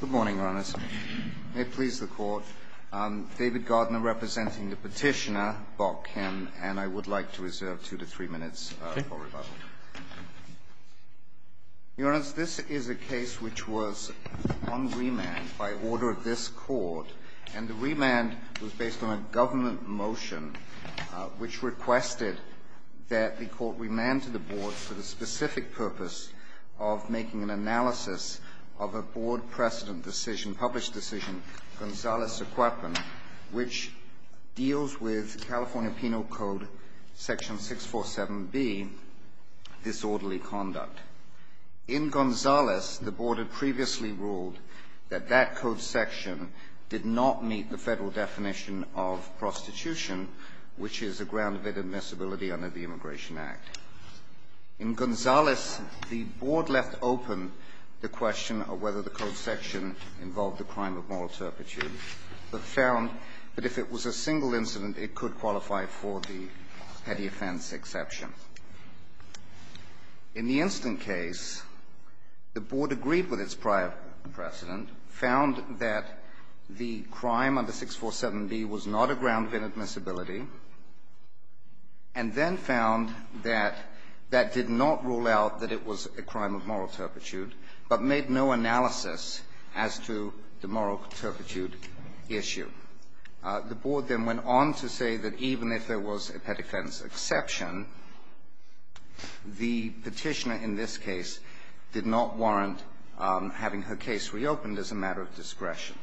Good morning, Your Honors. May it please the Court, David Gardner representing the petitioner, Bok Kim, and I would like to reserve two to three minutes for rebuttal. Your Honors, this is a case which was on remand by order of this Court, and the remand was based on a government motion which requested that the Court remand to the Board for the specific purpose of making an analysis of a Board precedent decision, published decision, Gonzales-Aquapen, which deals with California Penal Code, Section 647B, disorderly conduct. In Gonzales, the Board had previously ruled that that code section did not meet the Federal definition of prostitution, which is a ground of inadmissibility under the Immigration Act. In Gonzales, the Board left open the question of whether the code section involved a crime of moral turpitude, but found that if it was a single incident, it could qualify for the petty offense exception. In the instant case, the Board agreed with its prior precedent, found that the crime under 647B was not a ground of inadmissibility, and then found that that did not rule out that it was a crime of moral turpitude, but made no analysis as to the moral turpitude issue. The Board then went on to say that even if there was a petty offense exception, the Petitioner in this case did not warrant having her case reopened as a matter of discretion.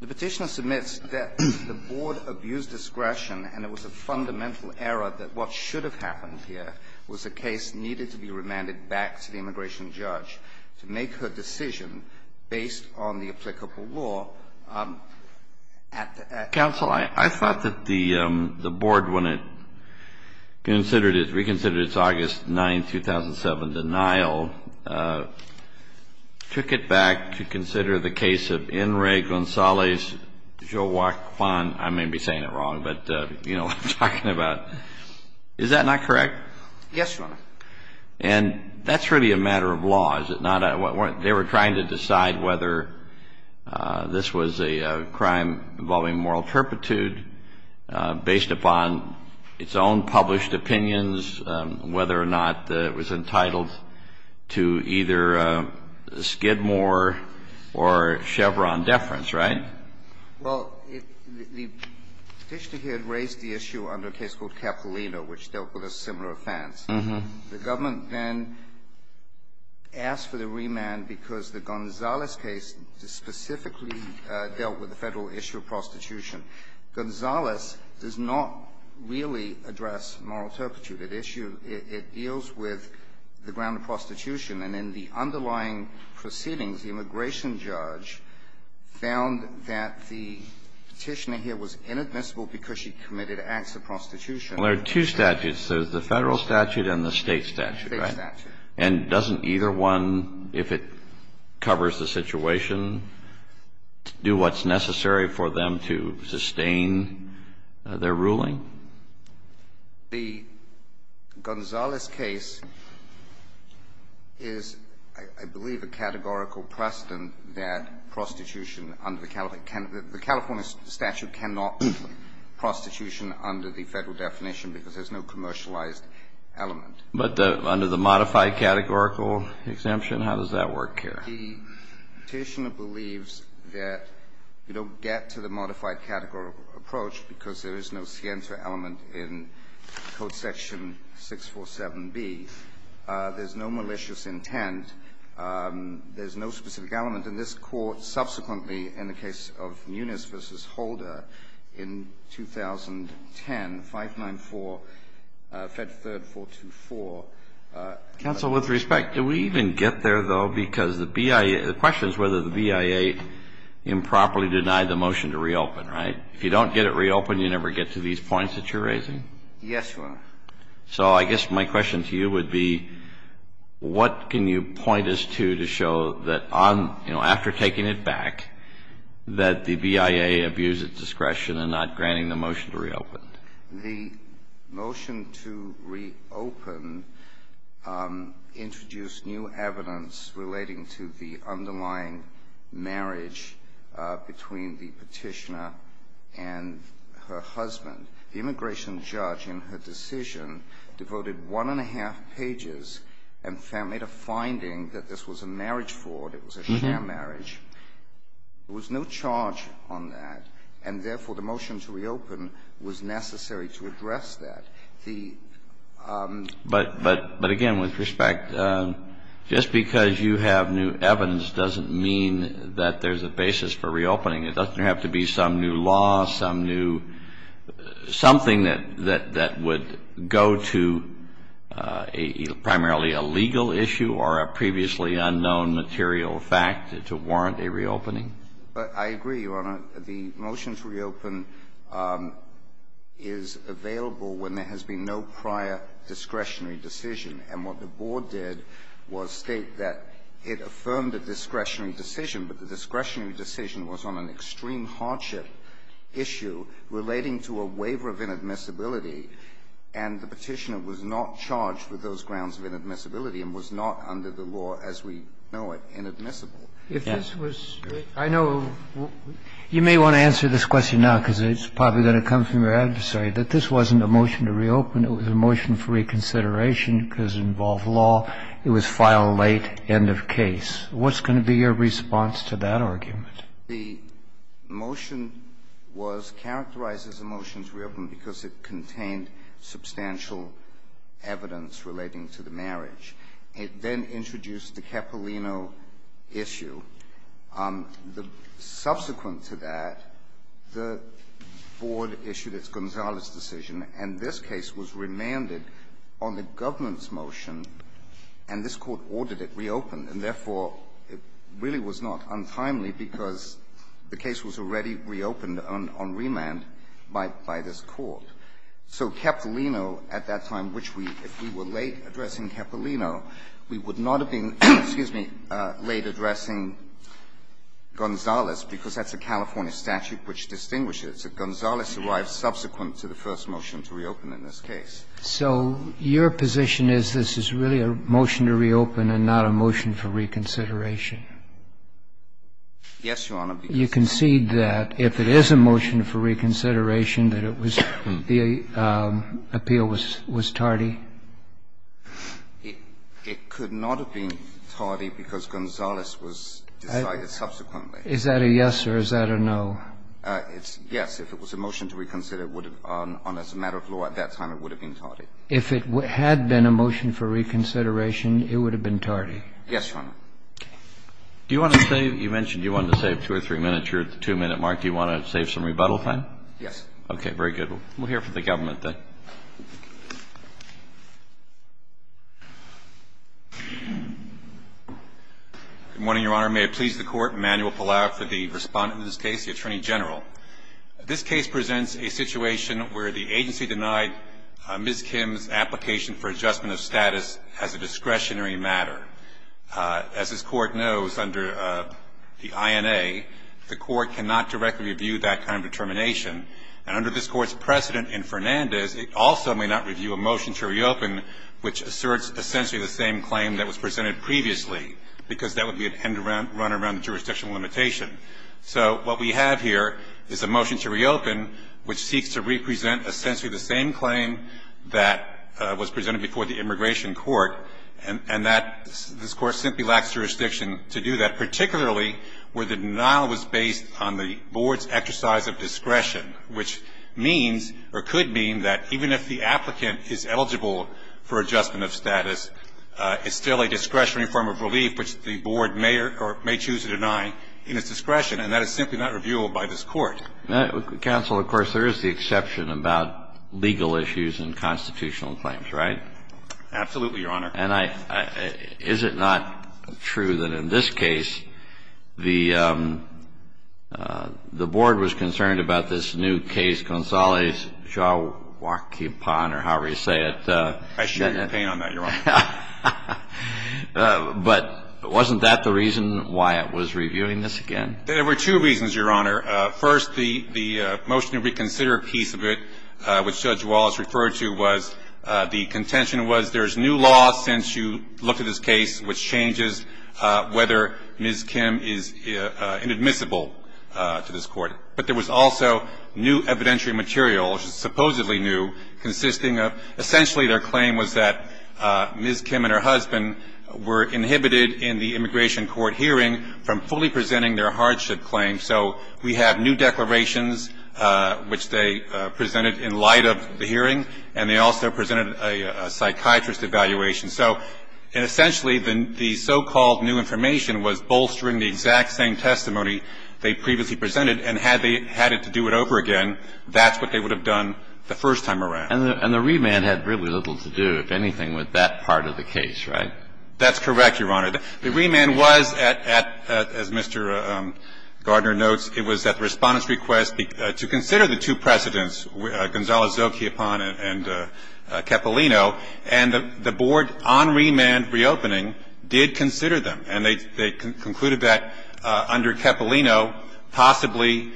The Petitioner submits that the Board abused discretion, and it was a fundamental error that what should have happened here was a case needed to be remanded back to the applicable law at the end. Kennedy. Counsel, I thought that the Board, when it considered it, reconsidered its August 9, 2007 denial, took it back to consider the case of In re Gonzales Joaquin. I may be saying it wrong, but you know what I'm talking about. Is that not correct? Yes, Your Honor. And that's really a matter of law, is it not? They were trying to decide whether this was a crime involving moral turpitude based upon its own published opinions, whether or not it was entitled to either Skidmore or Chevron deference, right? Well, the Petitioner here had raised the issue under a case called Capilino, which dealt with a similar offense. The government then asked for the remand because the Gonzales case specifically dealt with the Federal issue of prostitution. Gonzales does not really address moral turpitude. It issues the issue. It deals with the ground of prostitution, and in the underlying proceedings, the immigration judge found that the Petitioner here was inadmissible because she committed acts of prostitution. Well, there are two statutes. There's the Federal statute and the State statute, right? State statute. And doesn't either one, if it covers the situation, do what's necessary for them to sustain their ruling? The Gonzales case is, I believe, a categorical precedent that prostitution under the California statute cannot be prostitution under the Federal definition because there's no commercialized element. But under the modified categorical exemption, how does that work here? The Petitioner believes that you don't get to the modified categorical approach because there is no scienter element in Code Section 647B. There's no malicious intent. There's no specific element. And this Court subsequently, in the case of Muniz v. Holder in 2010, 594, Fed 3rd 424. Counsel, with respect, do we even get there, though? Because the BIA question is whether the BIA improperly denied the motion to reopen, right? If you don't get it reopened, you never get to these points that you're raising? Yes, Your Honor. So I guess my question to you would be, what can you point us to to show that on, you know, after taking it back, that the BIA abused its discretion in not granting the motion to reopen? The motion to reopen introduced new evidence relating to the underlying marriage between the Petitioner and her husband. The immigration judge in her decision devoted one and a half pages and made a finding that this was a marriage fraud, it was a sham marriage. There was no charge on that, and therefore, the motion to reopen was necessary to address that. The ---- But again, with respect, just because you have new evidence doesn't mean that there's a basis for reopening. It doesn't have to be some new law, some new ---- something that would go to primarily a legal issue or a previously unknown material fact to warrant a reopening? I agree, Your Honor. The motion to reopen is available when there has been no prior discretionary decision. And what the Board did was state that it affirmed a discretionary decision, but the discretionary decision was on an extreme hardship issue relating to a waiver of inadmissibility, and the Petitioner was not charged with those grounds of inadmissibility and was not under the law, as we know it, inadmissible. If this was ---- I know you may want to answer this question now because it's probably going to come from your adversary, that this wasn't a motion to reopen, it was a motion for reconsideration because it involved law, it was filed late, end of case. What's going to be your response to that argument? The motion was characterized as a motion to reopen because it contained substantial evidence relating to the marriage. It then introduced the Capolino issue. Subsequent to that, the Board issued its Gonzales decision, and this case was remanded on the government's motion, and this Court ordered it reopened. And therefore, it really was not untimely because the case was already reopened on remand by this Court. So Capolino, at that time, which we ---- if we were late addressing Capolino, we would not have been late addressing Gonzales because that's a California statute which distinguishes that Gonzales arrived subsequent to the first motion to reopen in this case. So your position is this is really a motion to reopen and not a motion for reconsideration? Yes, Your Honor. You concede that, if it is a motion for reconsideration, that it was ---- the appeal was tardy? It could not have been tardy because Gonzales was decided subsequently. Is that a yes or is that a no? It's yes. If it was a motion to reconsider, it would have been on a matter of law at that time, it would have been tardy. If it had been a motion for reconsideration, it would have been tardy? Yes, Your Honor. Do you want to save ---- you mentioned you wanted to save two or three minutes. You're at the two-minute mark. Do you want to save some rebuttal time? Yes. Okay. Very good. We'll hear from the government then. Good morning, Your Honor. May it please the Court, Emanuel Pallaro for the respondent to this case, the Attorney General. This case presents a situation where the agency denied Ms. Kim's application for adjustment of status as a discretionary matter. As this Court knows, under the INA, the Court cannot directly review that kind of determination. And under this Court's precedent in Fernandez, it also may not review a motion to reopen which asserts essentially the same claim that was presented previously because that would be a run around the jurisdictional limitation. So what we have here is a motion to reopen which seeks to represent essentially the same claim that was presented before the Immigration Court, and that this Court simply lacks jurisdiction to do that, particularly where the denial was based on the Board's exercise of discretion, which means or could mean that even if the applicant is eligible for adjustment of status, it's still a discretionary form of relief which the Board may or may choose to deny in its discretion. And that is simply not reviewable by this Court. Counsel, of course, there is the exception about legal issues and constitutional claims, right? Absolutely, Your Honor. And I – is it not true that in this case, the Board was concerned about this new case from the Consellia, or however you say it? I shouldn't be compaying on that, Your Honor. But wasn't that the reason why it was reviewing this again? There were two reasons, Your Honor. First, the – the motion to reconsider piece of it, which Judge Wallace referred to, was the contention was there is new law since you looked at this case, which changes whether Ms. Kim is inadmissible to this Court. But there was also new evidentiary material, supposedly new, consisting of – essentially their claim was that Ms. Kim and her husband were inhibited in the immigration court hearing from fully presenting their hardship claim. So we have new declarations, which they presented in light of the hearing, and they also presented a psychiatrist evaluation. So essentially, the so-called new information was bolstering the exact same testimony they previously presented, and had they had it to do it over again, that's what they would have done the first time around. And the remand had really little to do, if anything, with that part of the case, right? That's correct, Your Honor. The remand was at – as Mr. Gardner notes, it was at the Respondent's request to consider the two precedents, Gonzalo Zocchiapon and Cappellino. And the board on remand reopening did consider them, and they concluded that under Cappellino possibly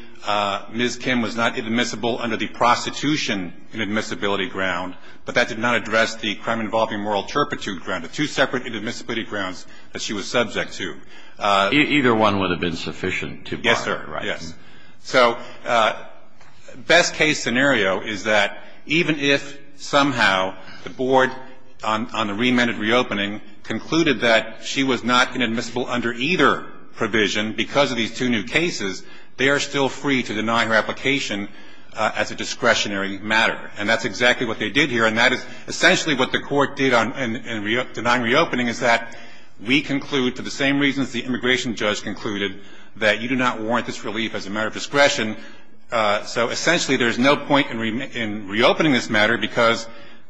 Ms. Kim was not inadmissible under the prostitution inadmissibility ground, but that did not address the crime-involving moral turpitude ground, the two separate inadmissibility grounds that she was subject to. Either one would have been sufficient to bar her, right? Yes, sir. Yes. So best-case scenario is that even if somehow the board on the remanded reopening concluded that she was not inadmissible under either provision because of these two new cases, they are still free to deny her application as a discretionary matter. And that's exactly what they did here. And that is essentially what the court did on – in denying reopening is that we conclude to the same reasons the immigration judge concluded that you do not warrant this relief as a matter of discretion. So essentially there is no point in reopening this matter because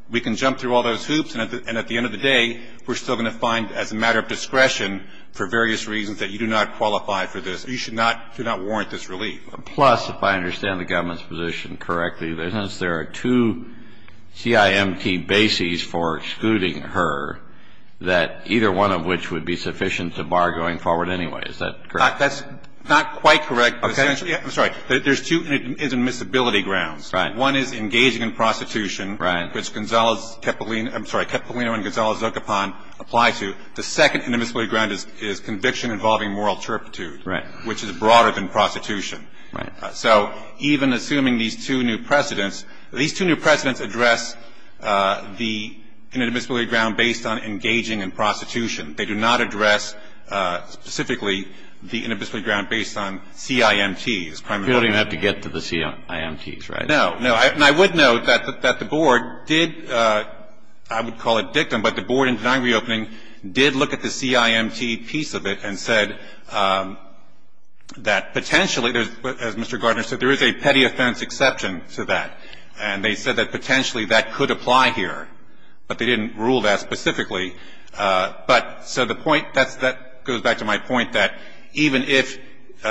we can jump through all those hoops, and at the end of the day, we're still going to find as a matter of discretion for various reasons that you do not qualify for this. So you should not – do not warrant this relief. Plus, if I understand the government's position correctly, there are two CIMT bases for excluding her, that either one of which would be sufficient to bar going forward anyway. Is that correct? That's not quite correct, but essentially – I'm sorry. There's two inadmissibility grounds. Right. One is engaging in prostitution. Right. Which Gonzalo's – I'm sorry, Cepollino and Gonzalo Zocopan apply to. The second inadmissibility ground is conviction-involving moral turpitude. Right. Which is broader than prostitution. Right. So even assuming these two new precedents, these two new precedents address the inadmissibility ground based on engaging in prostitution. They do not address specifically the inadmissibility ground based on CIMTs. You don't even have to get to the CIMTs, right? No. No. And I would note that the Board did – I would call it dictum, but the Board in denying that potentially, as Mr. Gardner said, there is a petty offense exception to that. And they said that potentially that could apply here, but they didn't rule that specifically. But so the point – that goes back to my point that even if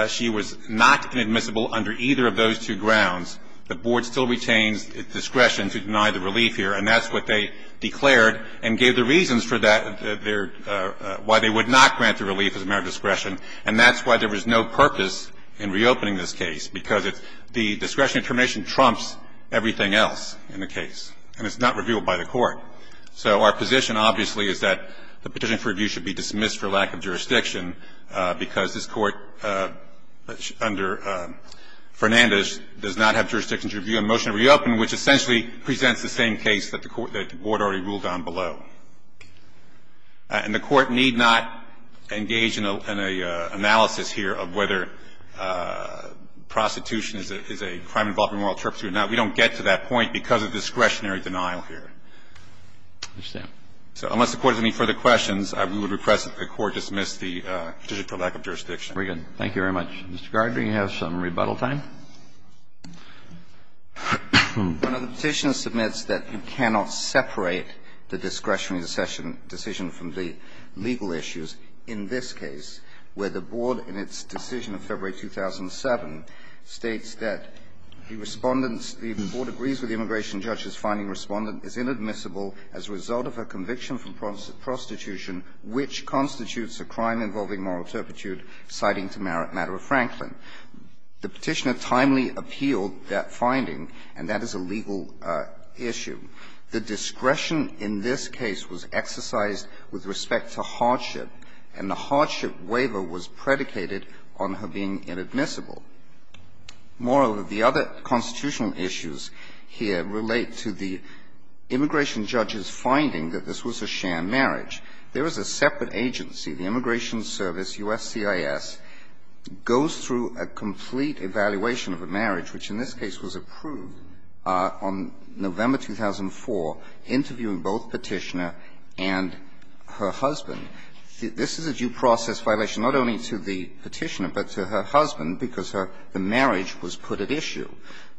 she was not inadmissible under either of those two grounds, the Board still retains discretion to deny the relief here, and that's what they declared and gave the reasons for that, why they would not grant the relief as a matter of discretion. And that's why there was no purpose in reopening this case, because the discretion information trumps everything else in the case, and it's not revealed by the Court. So our position, obviously, is that the petition for review should be dismissed for lack of jurisdiction, because this Court under Fernandez does not have jurisdiction to review a motion to reopen, which essentially presents the same case that the Board already ruled on below. And the Court need not engage in an analysis here of whether prostitution is a crime involving moral turpitude. Now, we don't get to that point because of discretionary denial here. So unless the Court has any further questions, I would request that the Court dismiss the petition for lack of jurisdiction. Very good. Thank you very much. Mr. Gardner, you have some rebuttal time? One of the petitions submits that you cannot separate the discretionary decision from the legal issues in this case, where the Board in its decision of February 2007 states that the Respondents the Board agrees with the immigration judges finding Respondent is inadmissible as a result of a conviction from prostitution, which constitutes a crime involving moral turpitude, citing to matter of Franklin. The Petitioner timely appealed that finding, and that is a legal issue. The discretion in this case was exercised with respect to hardship, and the hardship waiver was predicated on her being inadmissible. Moral of the other constitutional issues here relate to the immigration judges finding that this was a sham marriage. There is a separate agency, the Immigration Service, USCIS, goes through a complete evaluation of a marriage, which in this case was approved on November 2004, interviewing both Petitioner and her husband. This is a due process violation not only to the Petitioner, but to her husband, because her marriage was put at issue.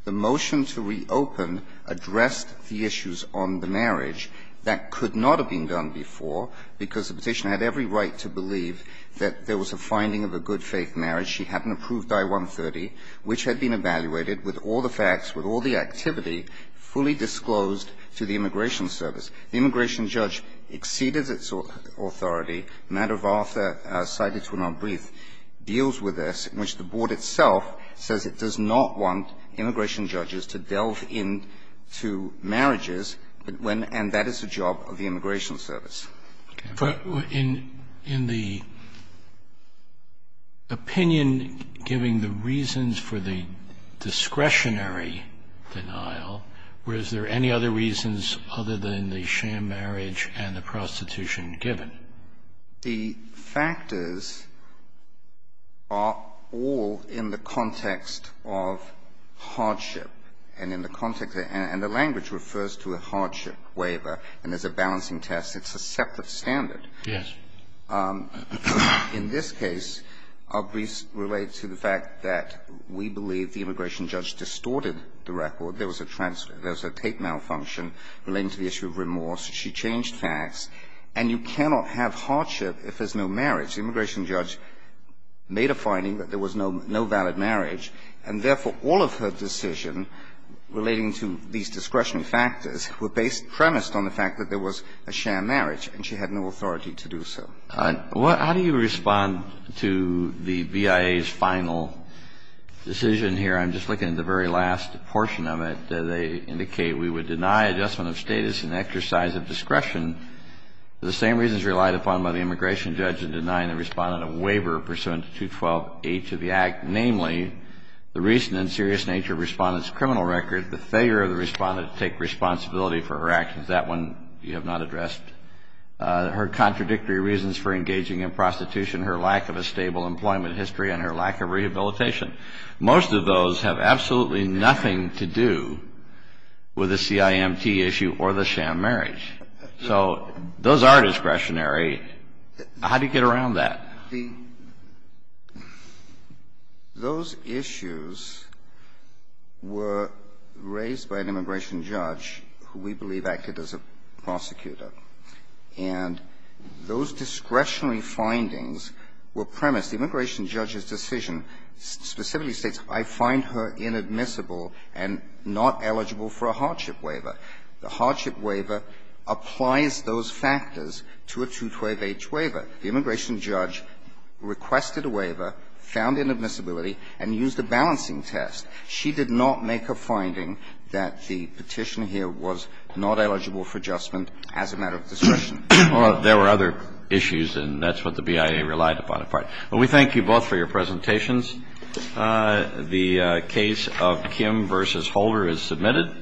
The motion to reopen addressed the issues on the marriage that could not have been done before, because the Petitioner had every right to believe that there was a finding of a good faith marriage. She hadn't approved I-130, which had been evaluated with all the facts, with all the activity, fully disclosed to the Immigration Service. The immigration judge exceeded its authority, a matter of after, cited to an unbrief, deals with this, in which the Board itself says it does not want immigration judges to delve into marriages, and that is the job of the Immigration Service. Roberts. In the opinion giving the reasons for the discretionary denial, were there any other reasons other than the sham marriage and the prostitution given? The factors are all in the context of hardship, and in the context of the language refers to a hardship waiver, and there's a balancing test. It's a separate standard. Yes. In this case, our briefs relate to the fact that we believe the immigration judge distorted the record. There was a transfer. There was a tape malfunction relating to the issue of remorse. She changed facts. And you cannot have hardship if there's no marriage. The immigration judge made a finding that there was no valid marriage, and therefore, all of her decision relating to these discretionary factors were based, premised on the fact that there was a sham marriage, and she had no authority to do so. How do you respond to the BIA's final decision here? I'm just looking at the very last portion of it. They indicate we would deny adjustment of status and exercise of discretion for the same reasons relied upon by the immigration judge in denying the respondent a waiver pursuant to 212H of the Act, namely, the reason and serious nature of respondent's criminal record, the failure of the respondent to take responsibility for her actions. That one you have not addressed. Her contradictory reasons for engaging in prostitution, her lack of a stable employment history, and her lack of rehabilitation. Most of those have absolutely nothing to do with the CIMT issue or the sham marriage. So those are discretionary. How do you get around that? The – those issues were raised by an immigration judge who we believe acted as a prosecutor. And those discretionary findings were premised. The immigration judge's decision specifically states, I find her inadmissible and not eligible for a hardship waiver. The hardship waiver applies those factors to a 212H waiver. The immigration judge requested a waiver, found inadmissibility, and used a balancing test. She did not make a finding that the petition here was not eligible for adjustment as a matter of discretion. Well, there were other issues, and that's what the BIA relied upon. But we thank you both for your presentations. The case of Kim v. Holder is submitted.